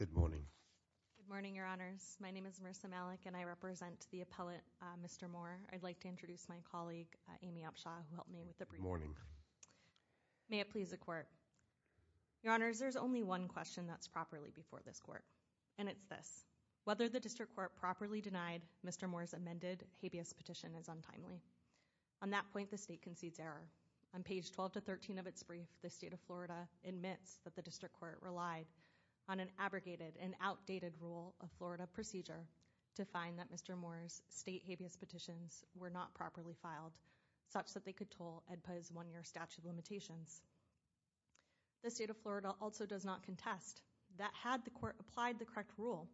Good morning. Good morning, your honors. My name is Marissa Malik and I represent the appellate Mr. Moore. I'd like to introduce my colleague, Amy Upshaw, who helped me with the briefing. May it please the court. Your honors, there's only one question that's properly before this court and it's this. Whether the district court properly denied Mr. Moore's amended habeas petition is untimely. On that point, the state concedes error. On page 12 to 13 of its brief, the state of Florida admits that the district court relied on an abrogated and outdated rule of Florida procedure to find that Mr. Moore's state habeas petitions were not properly filed such that they could toll EDPA's one-year statute of limitations. The state of Florida also does not contest that had the court applied the correct rule,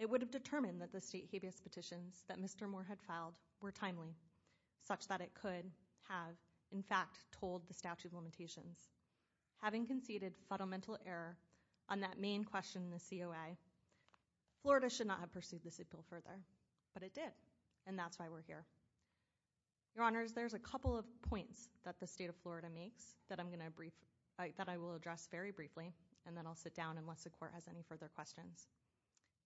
it would have determined that the state habeas petitions that Mr. Moore had filed were timely such that it could have, in fact, told the statute of limitations. Having conceded fundamental error on that main question in the COA, Florida should not have pursued this appeal further, but it did and that's why we're here. Your honors, there's a couple of points that the state of Florida makes that I'm going to brief, that I will address very briefly and then I'll sit down unless the court has any further questions.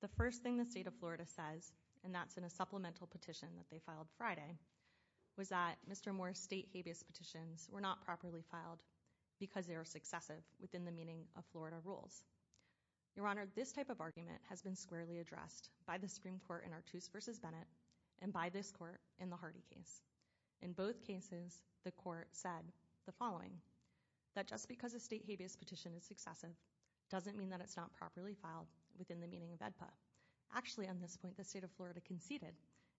The first thing the state of Florida says, and that's in a supplemental petition that they filed Friday, was that Mr. Moore's state habeas petitions were not properly filed because they are successive within the meaning of Florida rules. Your honor, this type of argument has been squarely addressed by the Supreme Court in Artuse v. Bennett and by this court in the Hardy case. In both cases, the court said the following, that just because a state habeas petition is successive doesn't mean that it's not properly filed within the meaning of AEDPA. Actually, on this point, the state of Florida conceded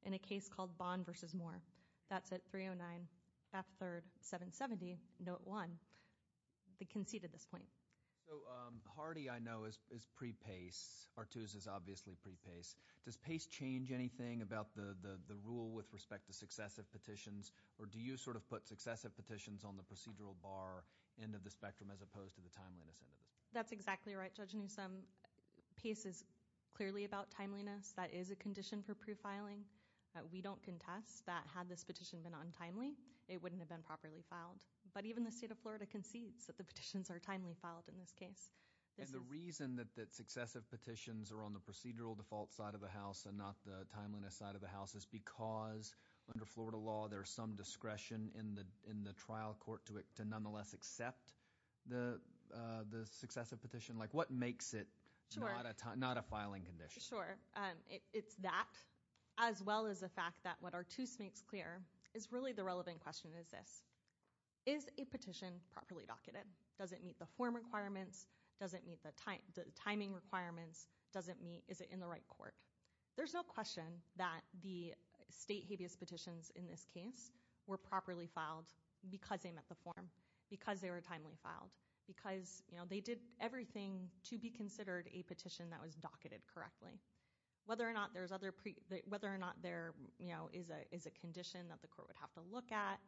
in a case called Bond v. Moore. That's at 309, F3, 770, Note 1. They conceded this point. So Hardy, I know, is pre-PACE. Artuse is obviously pre-PACE. Does PACE change anything about the rule with respect to successive petitions or do you sort of put successive petitions on the procedural bar end of the spectrum as opposed to the timeliness end of it? That's exactly right, Judge Newsom. PACE is clearly about timeliness. That is a condition for pre-filing. We don't contest that had this petition been untimely, it wouldn't have been properly filed. But even the state of Florida concedes that the petitions are timely filed in this case. And the reason that successive petitions are on the procedural default side of the house and not the timeliness side of the house is because under Florida law, there's some the successive petition. What makes it not a filing condition? Sure. It's that as well as the fact that what Artuse makes clear is really the relevant question is this. Is a petition properly docketed? Does it meet the form requirements? Does it meet the timing requirements? Is it in the right court? There's no question that the state habeas petitions in this case were properly filed because they met the form, because they were timely filed, because they did everything to be considered a petition that was docketed correctly. Whether or not there is a condition that the court would have to look at,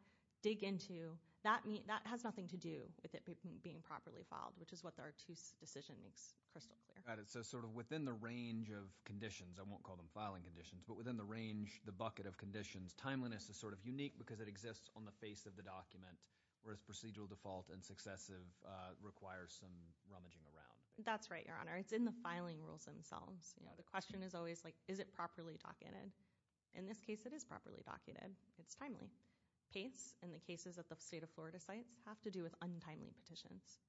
dig into, that has nothing to do with it being properly filed, which is what the Artuse decision makes crystal clear. Got it. So sort of within the range of conditions, I won't call them filing conditions, but within the range, the bucket of conditions, timeliness is sort of unique because it exists on the face of the document, whereas procedural default and successive requires some rummaging around. That's right, Your Honor. It's in the filing rules themselves. The question is always is it properly docketed? In this case, it is properly docketed. It's timely. Pates and the cases at the state of Florida sites have to do with untimely petitions.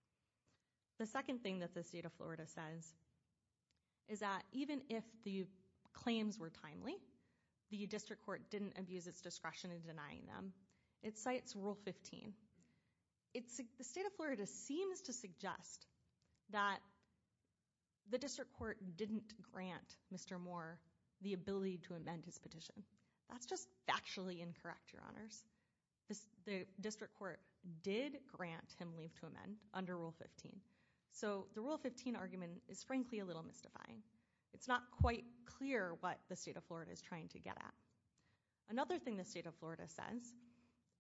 The second thing that the state of Florida says is that even if the claims were timely, the district court didn't abuse its discretion in denying them. It cites Rule 15. The state of Florida seems to suggest that the district court didn't grant Mr. Moore the ability to amend his petition. That's just factually incorrect, Your Honors. The district court did grant him leave to amend under Rule 15. So the Rule 15 argument is frankly a little mystifying. It's not quite clear what the state of Florida is trying to get at. Another thing the state of Florida says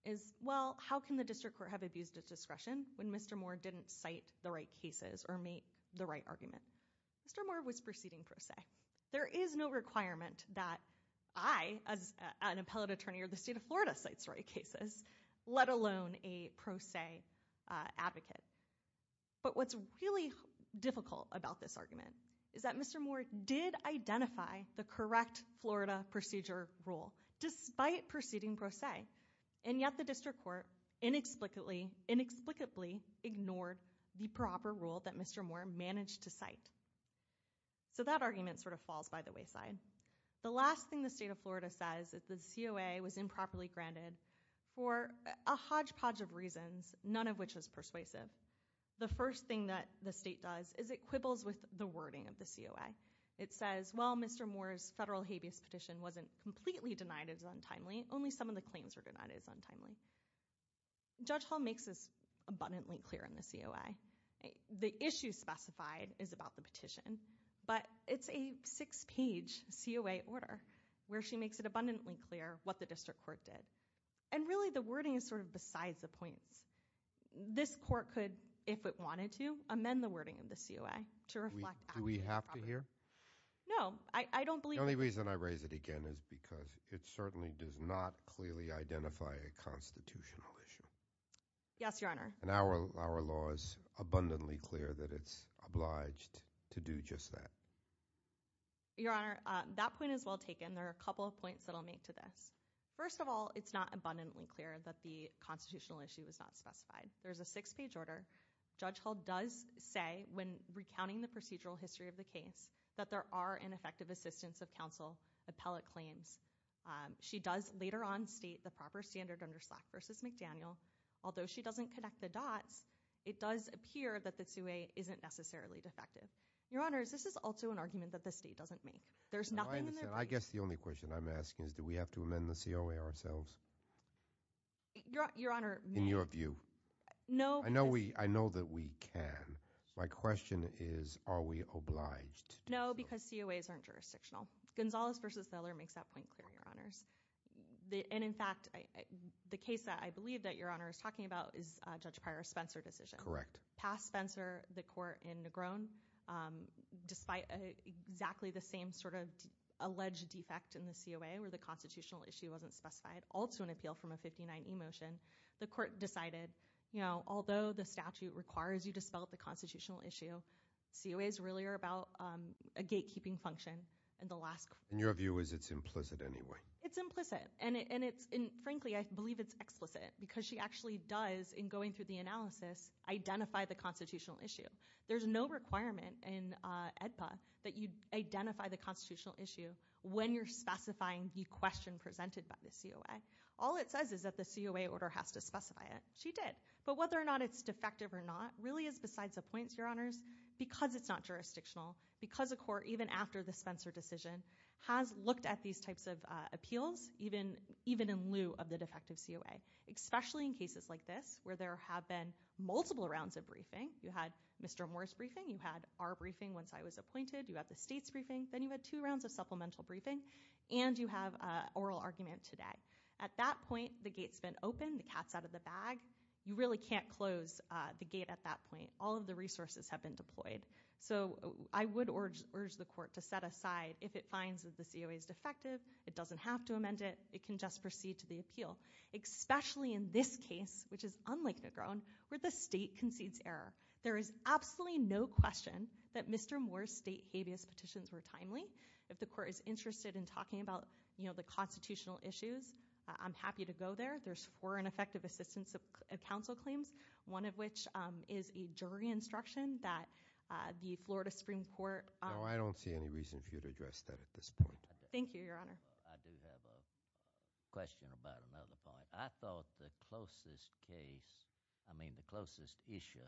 is, well, how can the district court have abused its discretion when Mr. Moore didn't cite the right cases or make the right argument? Mr. Moore was proceeding pro se. There is no requirement that I, as an appellate what's really difficult about this argument is that Mr. Moore did identify the correct Florida procedure rule despite proceeding pro se. And yet the district court inexplicably ignored the proper rule that Mr. Moore managed to cite. So that argument sort of falls by the wayside. The last thing the state of Florida says is that the COA was improperly granted for a hodgepodge of reasons, none of which was persuasive. The first thing that the state does is it quibbles with the wording of the COA. It says, well, Mr. Moore's federal habeas petition wasn't completely denied as untimely, only some of the claims were denied as untimely. Judge Hall makes this abundantly clear in the COA. The issue specified is about the petition, but it's a six-page COA order where she makes it abundantly clear what the district court did. And really the wording is sort of points. This court could, if it wanted to, amend the wording of the COA. Do we have to hear? No, I don't believe. The only reason I raise it again is because it certainly does not clearly identify a constitutional issue. Yes, Your Honor. And our law is abundantly clear that it's obliged to do just that. Your Honor, that point is well taken. There are a couple of points that I'll make to this. First of all, it's not abundantly clear that the constitutional issue was not specified. There's a six-page order. Judge Hall does say, when recounting the procedural history of the case, that there are ineffective assistance of counsel appellate claims. She does later on state the proper standard under Slack v. McDaniel. Although she doesn't connect the dots, it does appear that the COA isn't necessarily defective. Your Honors, this is also an argument that the have to amend the COA ourselves? Your Honor. In your view? No. I know that we can. My question is, are we obliged? No, because COAs aren't jurisdictional. Gonzales v. Seller makes that point clear, Your Honors. And in fact, the case that I believe that Your Honor is talking about is Judge Pryor-Spencer decision. Correct. Past Spencer, the court in Negron, despite exactly the same sort of alleged defect in the COA where the constitutional issue wasn't specified, also an appeal from a 59e motion, the court decided, you know, although the statute requires you to spell out the constitutional issue, COAs really are about a gatekeeping function. And your view is it's implicit anyway? It's implicit. And frankly, I believe it's explicit, because she actually does, in going through the analysis, identify the constitutional issue. There's no requirement in AEDPA that you identify the constitutional issue when you're specifying the question presented by the COA. All it says is that the COA order has to specify it. She did. But whether or not it's defective or not really is besides the points, Your Honors, because it's not jurisdictional, because a court, even after the Spencer decision, has looked at these types of appeals, even in lieu of the defective COA, especially in cases like this, where there have been multiple rounds of briefing. You had Mr. Moore's briefing. You had our briefing once I was appointed. You had the state's briefing. Then you had two rounds of supplemental briefing. And you have oral argument today. At that point, the gate's been opened. The cat's out of the bag. You really can't close the gate at that point. All of the resources have been deployed. So I would urge the court to set aside if it finds that the COA is defective. It doesn't have to amend it. It can just proceed to the appeal, especially in this case, which is unlike Negron, where the state concedes error. There is absolutely no question that Mr. Moore's state habeas petitions were timely. If the court is interested in talking about the constitutional issues, I'm happy to go there. There's four ineffective assistance of counsel claims, one of which is a jury instruction that the Florida Supreme Court- No, I don't see any reason for you to address that at this point. Thank you, Your Honor. I do have a question about another point. I thought the closest issue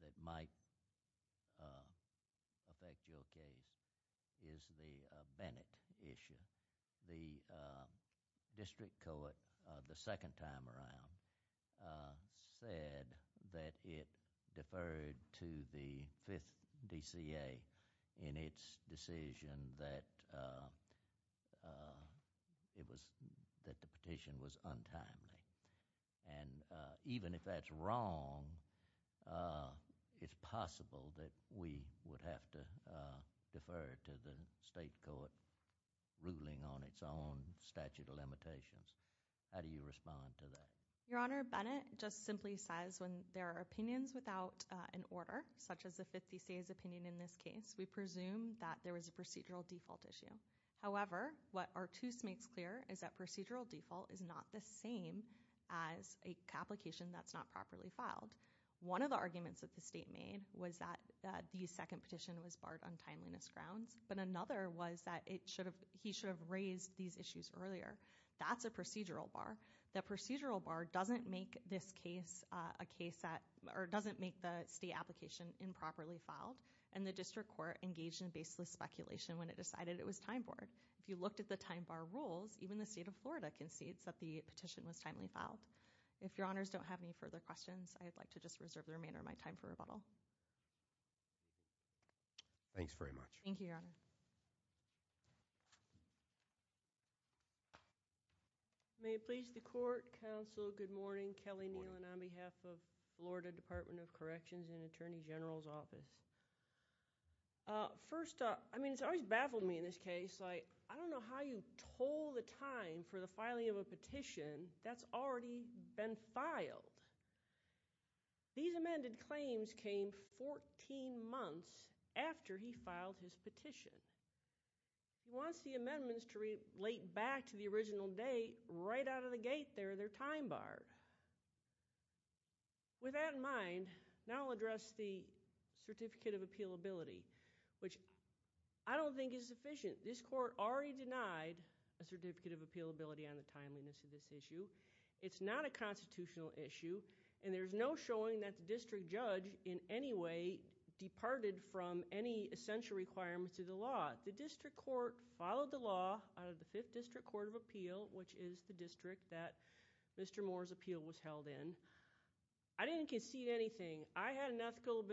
that might affect your case is the Bennett issue. The district court, the second time around, said that it deferred to the 5th DCA in its decision that the petition was untimely. Even if that's wrong, it's possible that we would have to defer to the state court ruling on its own statute of limitations. How do you respond to that? Your Honor, Bennett just simply says when there are opinions without an order, such as the 5th DCA's opinion in this case, we presume that there was a procedural default issue. However, what Artuse makes clear is that procedural default is not the same as a complication that's not properly filed. One of the arguments that the state made was that the second petition was barred on timeliness grounds, but another was that he should have these issues earlier. That's a procedural bar. The procedural bar doesn't make the state application improperly filed, and the district court engaged in baseless speculation when it decided it was time borne. If you looked at the time bar rules, even the state of Florida concedes that the petition was timely filed. If Your Honors don't have any further questions, I'd like to just reserve the remainder of my time for rebuttal. Thanks very much. Thank you, Your Honor. May it please the court, counsel, good morning. Kelly Nealon on behalf of Florida Department of Corrections and Attorney General's Office. First up, I mean it's always baffled me in this case, like I don't know how you told the time for the filing of a petition that's already been filed. These amended claims came 14 months after he filed his petition. He wants the amendments to relate back to the original date right out of the gate there, their time bar. With that in mind, now I'll address the certificate of appealability, which I don't think is sufficient. This court already denied a certificate of appealability on the timeliness of this issue. It's not a legal issue, and there's no showing that the district judge in any way departed from any essential requirements of the law. The district court followed the law out of the Fifth District Court of Appeal, which is the district that Mr. Moore's appeal was held in. I didn't concede anything. I had an ethical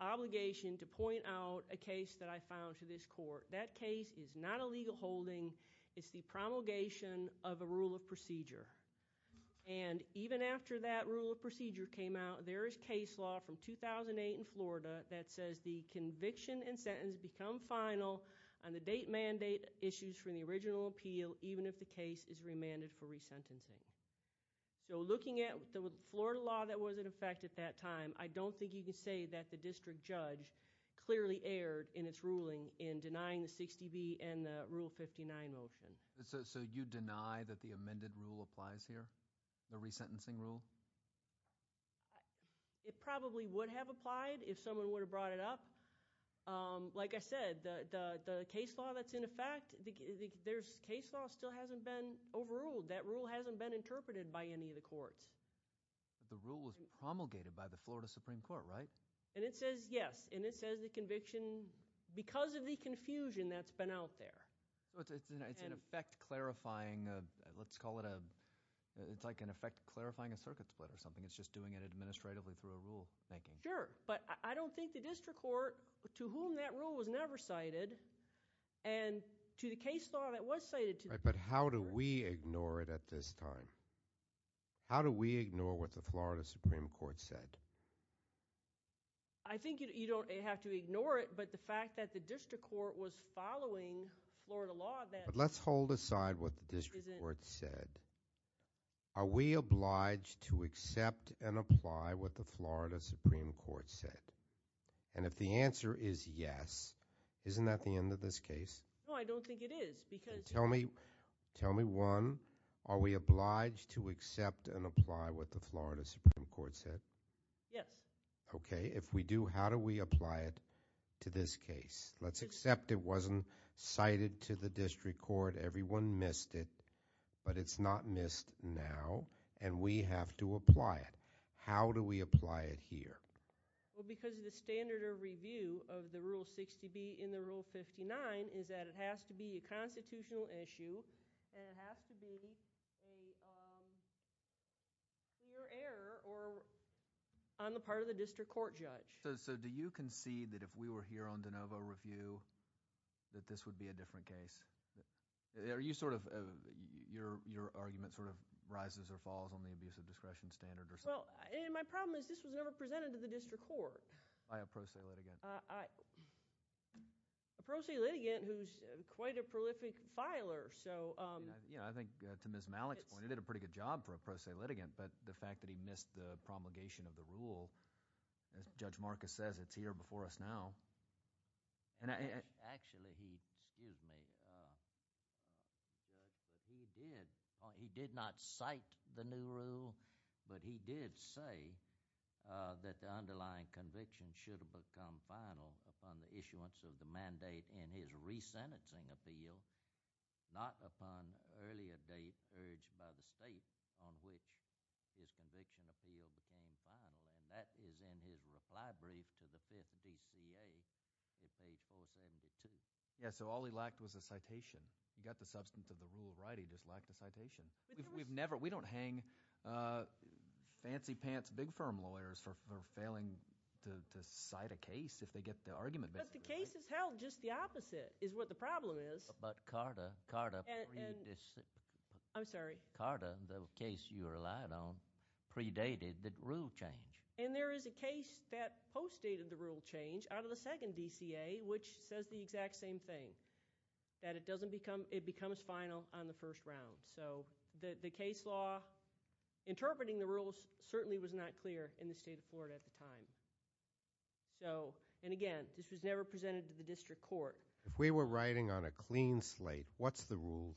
obligation to point out a case that I found to this court. That case is not a legal holding. It's the promulgation of a rule of procedure. Even after that rule of procedure came out, there is case law from 2008 in Florida that says the conviction and sentence become final on the date mandate issues from the original appeal, even if the case is remanded for resentencing. Looking at the Florida law that was in effect at that time, I don't think you can say that the district judge clearly erred in its ruling in denying the 60B and the Rule 59 motion. So you deny that the amended rule applies here? The resentencing rule? It probably would have applied if someone would have brought it up. Like I said, the case law that's in effect, there's case law still hasn't been overruled. That rule hasn't been interpreted by any of the courts. The rule was promulgated by the Florida Supreme Court, right? And it says yes. And it says the conviction, because of the confusion that's been out there. It's an effect clarifying, let's call it a, it's like an effect clarifying a circuit split or something. It's just doing it administratively through a rule making. Sure. But I don't think the district court, to whom that rule was never cited, and to the case law that was cited. But how do we ignore it at this time? How do we ignore what the Florida Supreme Court said? I think you don't have to ignore it, but the fact that the district court was following Florida law then. But let's hold aside what the district court said. Are we obliged to accept and apply what the Florida Supreme Court said? And if the answer is yes, isn't that the end of this case? No, I don't think it is. Tell me, tell me one, are we obliged to accept and apply what the Florida Supreme Court said? Yes. Okay. If we do, how do we apply it to this case? Let's accept it wasn't cited to the district court. Everyone missed it, but it's not missed now. And we have to apply it. How do we apply it here? Well, because of the standard of review of the Rule 60B in the Rule 59 is that it has to be a constitutional issue and it has to be a clear error or on the part of the district court judge. So do you concede that if we were here on de novo review that this would be a different case? Are you sort of, your argument sort of rises or falls on the abusive discretion standard or something? Well, and my problem is this was never presented to the district court. By a pro se litigant. A pro se litigant who's quite a prolific filer. Yeah, I think to Ms. Malik's point, he did a pretty good job for a pro se litigant, but the fact that he missed the promulgation of the rule, as Judge Marcus says, it's here before us now. Actually, he, excuse me, he did not cite the new rule, but he did say that the underlying conviction should have become final upon the issuance of the mandate in his re-sentencing appeal, not upon earlier date urged by the state on which his conviction appeal became final. And that is in his reply brief to the 5th DCA at page 472. Yeah, so all he lacked was a citation. He got the substance of the rule right, he just lacked a citation. We don't hang fancy pants big firm lawyers for failing to cite a case if they get the argument. But the case is held just the opposite, is what the problem is. But Carta, the case you relied on, predated the rule change. And there is a case that post-dated the rule change out of the 2nd DCA, which says the exact same thing, that it becomes final on the first round. So, the case law interpreting the rules certainly was not clear in the state of Florida at the time. So, and again, this was never presented to the district court. If we were writing on a clean slate, what's the rule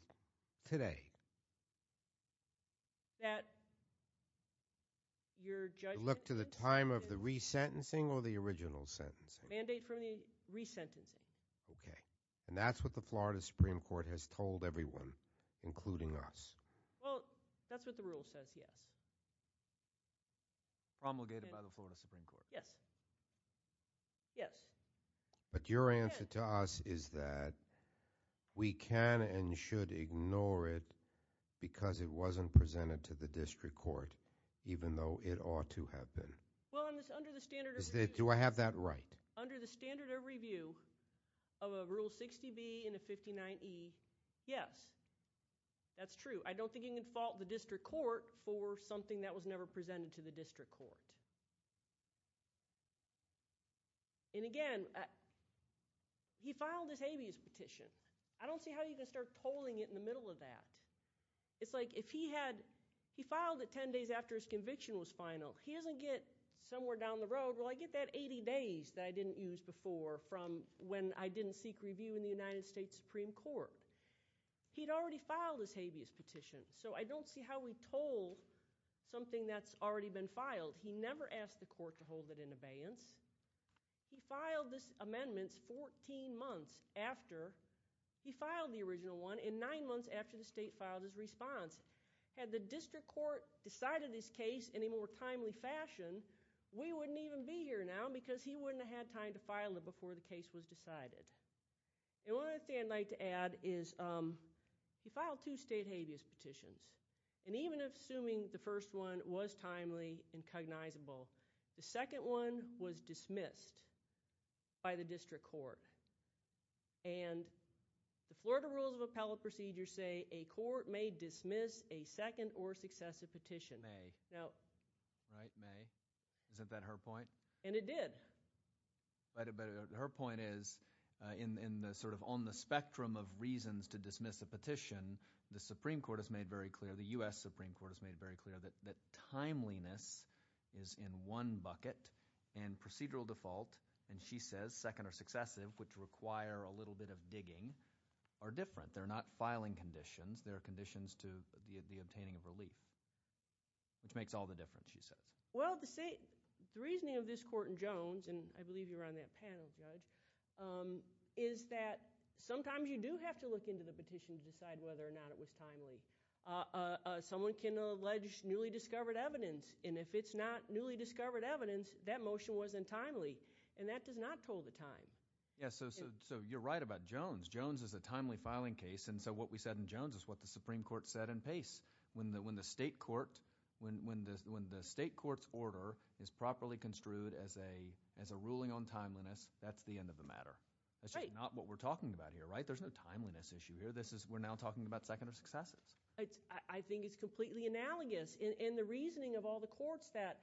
today? That your judge Look to the time of the re-sentencing or the original sentencing? Mandate from the re-sentencing. Okay. And that's what the Florida Supreme Court has told everyone, including us. Well, that's what the rule says, yes. Promulgated by the Florida Supreme Court. Yes. Yes. But your answer to us is that we can and should ignore it because it wasn't presented to the district court, even though it ought to have been. Well, under the standard of review Do I have that right? Under the standard of review of a Rule 60B and a 59E, yes. That's true. I don't think you can fault the district court for something that was never presented to the district court. And again, he filed this habeas petition. I don't see how you can start tolling it in the middle of that. It's like if he had, he filed it 10 days after his conviction was final. He doesn't get somewhere down the road. Well, I get that 80 days that I didn't use before from when I didn't seek review in the United States Supreme Court. He'd already filed his habeas petition, so I don't see how we toll something that's already been filed. He never asked the court to hold it in abeyance. He filed this amendment 14 months after he filed the original one and nine months after the state filed his response. Had the district court decided his case in a more timely fashion, we wouldn't even be here now because he wouldn't have had time to file it before the case was decided. And one other thing I'd like to add is he filed two state habeas petitions. And even if assuming the first one was timely and cognizable, the second one was dismissed by the district court. And the Florida Rules of Appellate Procedure say a court may dismiss a second or successive petition. May. Right, May. Isn't that her point? And it did. But her point is in the sort of on the spectrum of reasons to dismiss a petition, the Supreme Court has made very clear, the U.S. Supreme Court has made very clear that timeliness is in one bucket and procedural default, and she says second or successive, which require a little bit of digging, are different. They're not filing conditions. They're conditions to the obtaining of relief. Which makes all the difference, she says. Well, the reasoning of this court in Jones, and I believe you were on that panel, Judge, is that sometimes you do have to look into the petition to decide whether or not it was timely. Someone can allege newly discovered evidence, and if it's not newly discovered evidence, that motion wasn't timely. And that does not toll the time. Yes, so you're right about Jones. Jones is a timely filing case, and so what we said in Jones is what the Supreme Court said in Pace. When the state court's order is properly construed as a ruling on timeliness, that's the end of the matter. That's just not what we're talking about here, right? There's no timeliness issue here. This is, we're now talking about second or successive. I think it's completely analogous in the reasoning of all the courts that...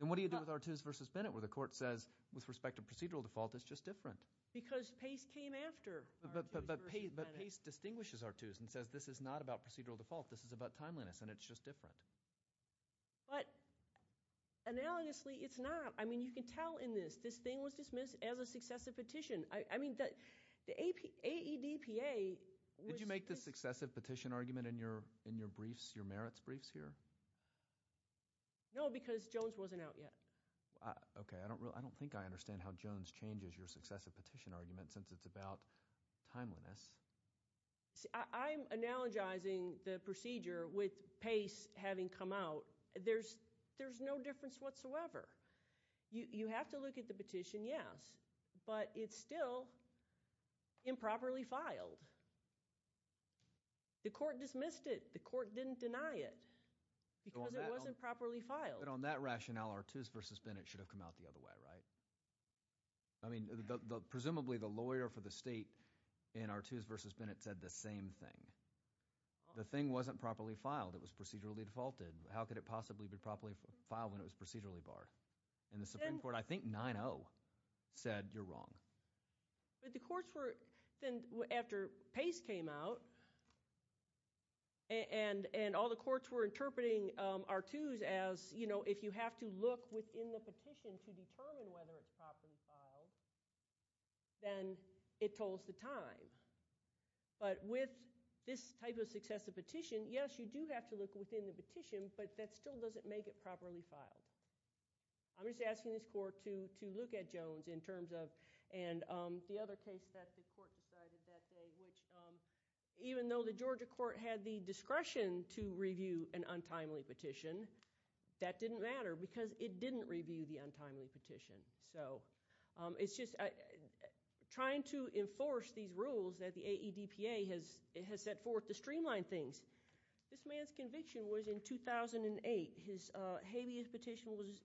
And what do you do with Artuse versus Bennett, where the court says, with respect to procedural default, it's just different? Because Pace came after Artuse versus Bennett. But Pace distinguishes Artuse and says, this is not about procedural default. This is about timeliness, and it's just different. But analogously, it's not. I mean, you can tell in this. This thing was dismissed as a successive petition. I mean, the AEDPA was... Did you make the successive petition argument in your merits briefs here? No, because Jones wasn't out yet. Okay, I don't think I understand how Jones changes your successive petition argument, since it's about timeliness. See, I'm analogizing the procedure with Pace having come out. There's no difference whatsoever. You have to look at the petition, yes. But it's still improperly filed. The court dismissed it. The court didn't deny it, because it wasn't properly filed. But on that rationale, Artuse versus Bennett should have come out the other way, right? I mean, presumably, the lawyer for the state in Artuse versus Bennett said the same thing. The thing wasn't properly filed. It was procedurally defaulted. How could it possibly be properly filed when it was procedurally barred? And the Supreme Court, I think 9-0 said, you're wrong. But the courts were... After Pace came out, and all the courts were interpreting Artuse as, if you have to look within the petition to determine whether it's properly filed, then it told us the time. But with this type of successive petition, yes, you do have to look within the petition, but that still doesn't make it properly filed. I'm just asking this court to look at Jones in terms of... And the other case that the court decided that day, which even though the Georgia court had the discretion to review an untimely petition, that didn't matter because it didn't review the untimely petition. So it's just trying to enforce these rules that the AEDPA has set forth to streamline things. This man's conviction was in 2008. His habeas petition was...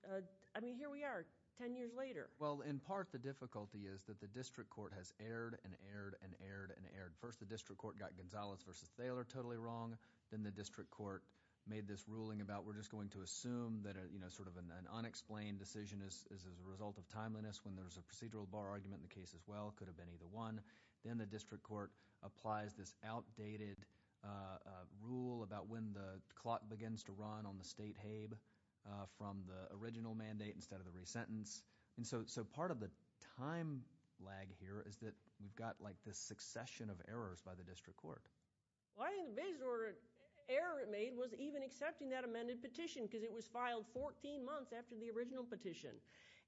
I mean, here we are 10 years later. Well, in part, the difficulty is that the district court has erred and erred and erred and erred. First, the district court got Gonzalez versus Thaler totally wrong. Then the district court made this ruling about, we're just going to assume that sort of an unexplained decision is as a result of timeliness when there's a procedural bar argument in the case as well. It could have been either one. Then the district court applies this outdated rule about when the clock begins to run on the state habe from the original mandate instead of the re-sentence. And so part of the time lag here is that we've got like this succession of errors by the district court. Well, I think the biggest error it made was even accepting that amended petition because it was filed 14 months after the original petition.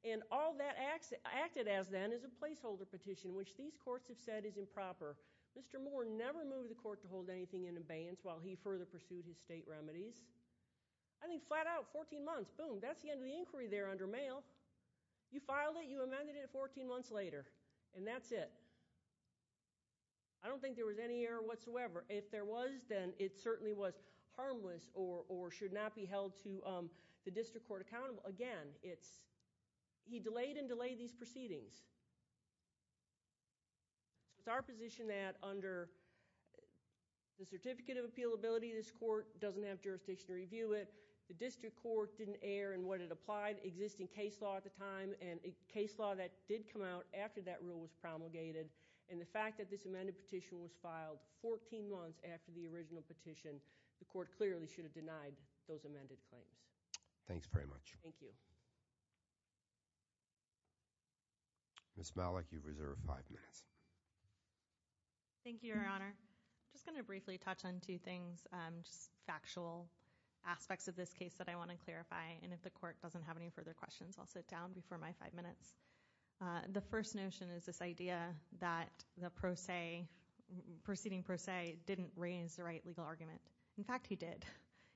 And all that acted as then is a placeholder petition which these courts have said is improper. Mr. Moore never moved the court to hold anything in abeyance while he further pursued his state remedies. I think flat out 14 months, boom, that's the end of the inquiry there under mail. You filed it, you amended it 14 months later, and that's it. I don't think there was any error whatsoever. If there was, then it certainly was harmless or should not be held to the district court accountable. Again, he delayed and delayed these proceedings. It's our position that under the certificate of appealability, this court doesn't have jurisdiction to review it. The district court didn't air in what it applied existing case law at the time and a case law that did come out after that rule was promulgated. And the fact that this amended petition was filed 14 months after the original petition, the court clearly should have denied those amended claims. Thanks very much. Thank you. Ms. Malik, you've reserved five minutes. Thank you, Your Honor. I'm just gonna briefly touch on two things, just factual aspects of this case that I wanna clarify. And if the court doesn't have any further questions, I'll sit down before my five minutes. The first notion is this idea that the pro se, proceeding pro se didn't raise the right legal argument. In fact, he did.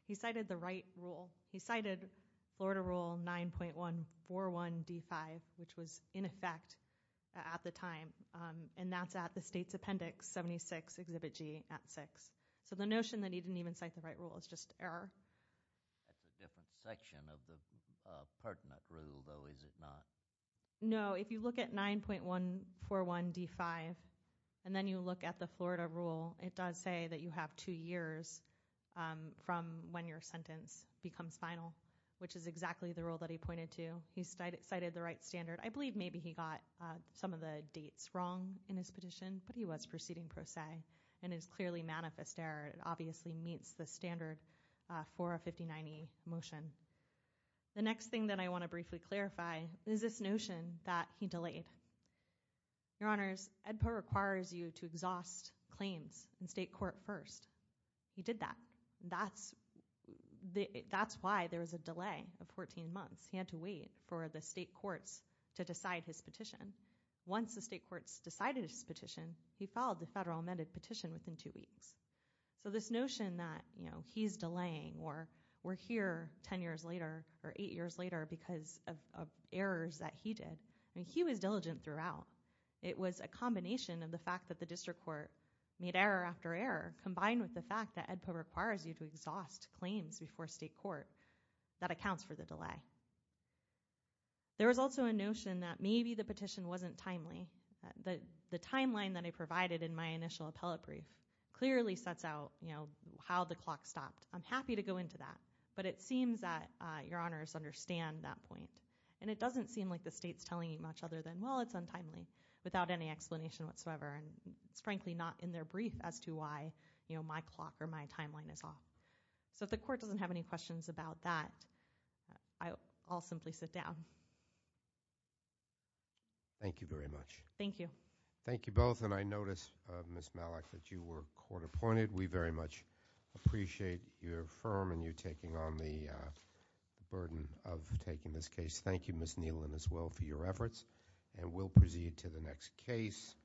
He cited the right rule. He cited Florida Rule 9.141D5, which was in effect at the time. And that's at the state's appendix 76, Exhibit G at six. So the notion that he didn't even cite the right rule is just error. That's a different section of the pertinent rule, though, is it not? No, if you look at 9.141D5, and then you look at the Florida Rule, it does say that you have two years from when your sentence becomes final, which is exactly the rule that he pointed to. He cited the right standard. I believe maybe he got some of the dates wrong in his petition, but he was proceeding pro se. And it's clearly manifest error. It obviously meets the standard 459E motion. The next thing that I wanna briefly clarify is this notion that he delayed. Your Honors, EDPA requires you to exhaust claims in state court first. He did that. That's why there was a delay of 14 months. He had to wait for the state courts to decide his petition. Once the state courts decided his petition, he filed the federal amended petition within two weeks. So this notion that he's delaying or we're here 10 years later or eight years later because of errors that he did, I mean, he was diligent throughout. It was a combination of the fact that the district court made error after error combined with the fact that EDPA requires you to exhaust claims before state court that accounts for the delay. There was also a notion that maybe the petition wasn't timely. The timeline that I provided in my initial appellate brief clearly sets out how the clock stopped. I'm happy to go into that, but it seems that Your Honors understand that point and it doesn't seem like the state's telling you much other than, well, it's untimely without any explanation whatsoever. And it's frankly not in their brief as to why my clock or my timeline is off. So if the court doesn't have any questions about that, I'll simply sit down. Thank you very much. Thank you. Thank you both. And I noticed, Ms. Malik, that you were court appointed. We very much appreciate your firm taking on the burden of taking this case. Thank you, Ms. Nealon, as well for your efforts. And we'll proceed to the next case,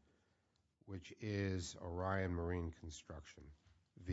which is Orion Marine Construction v.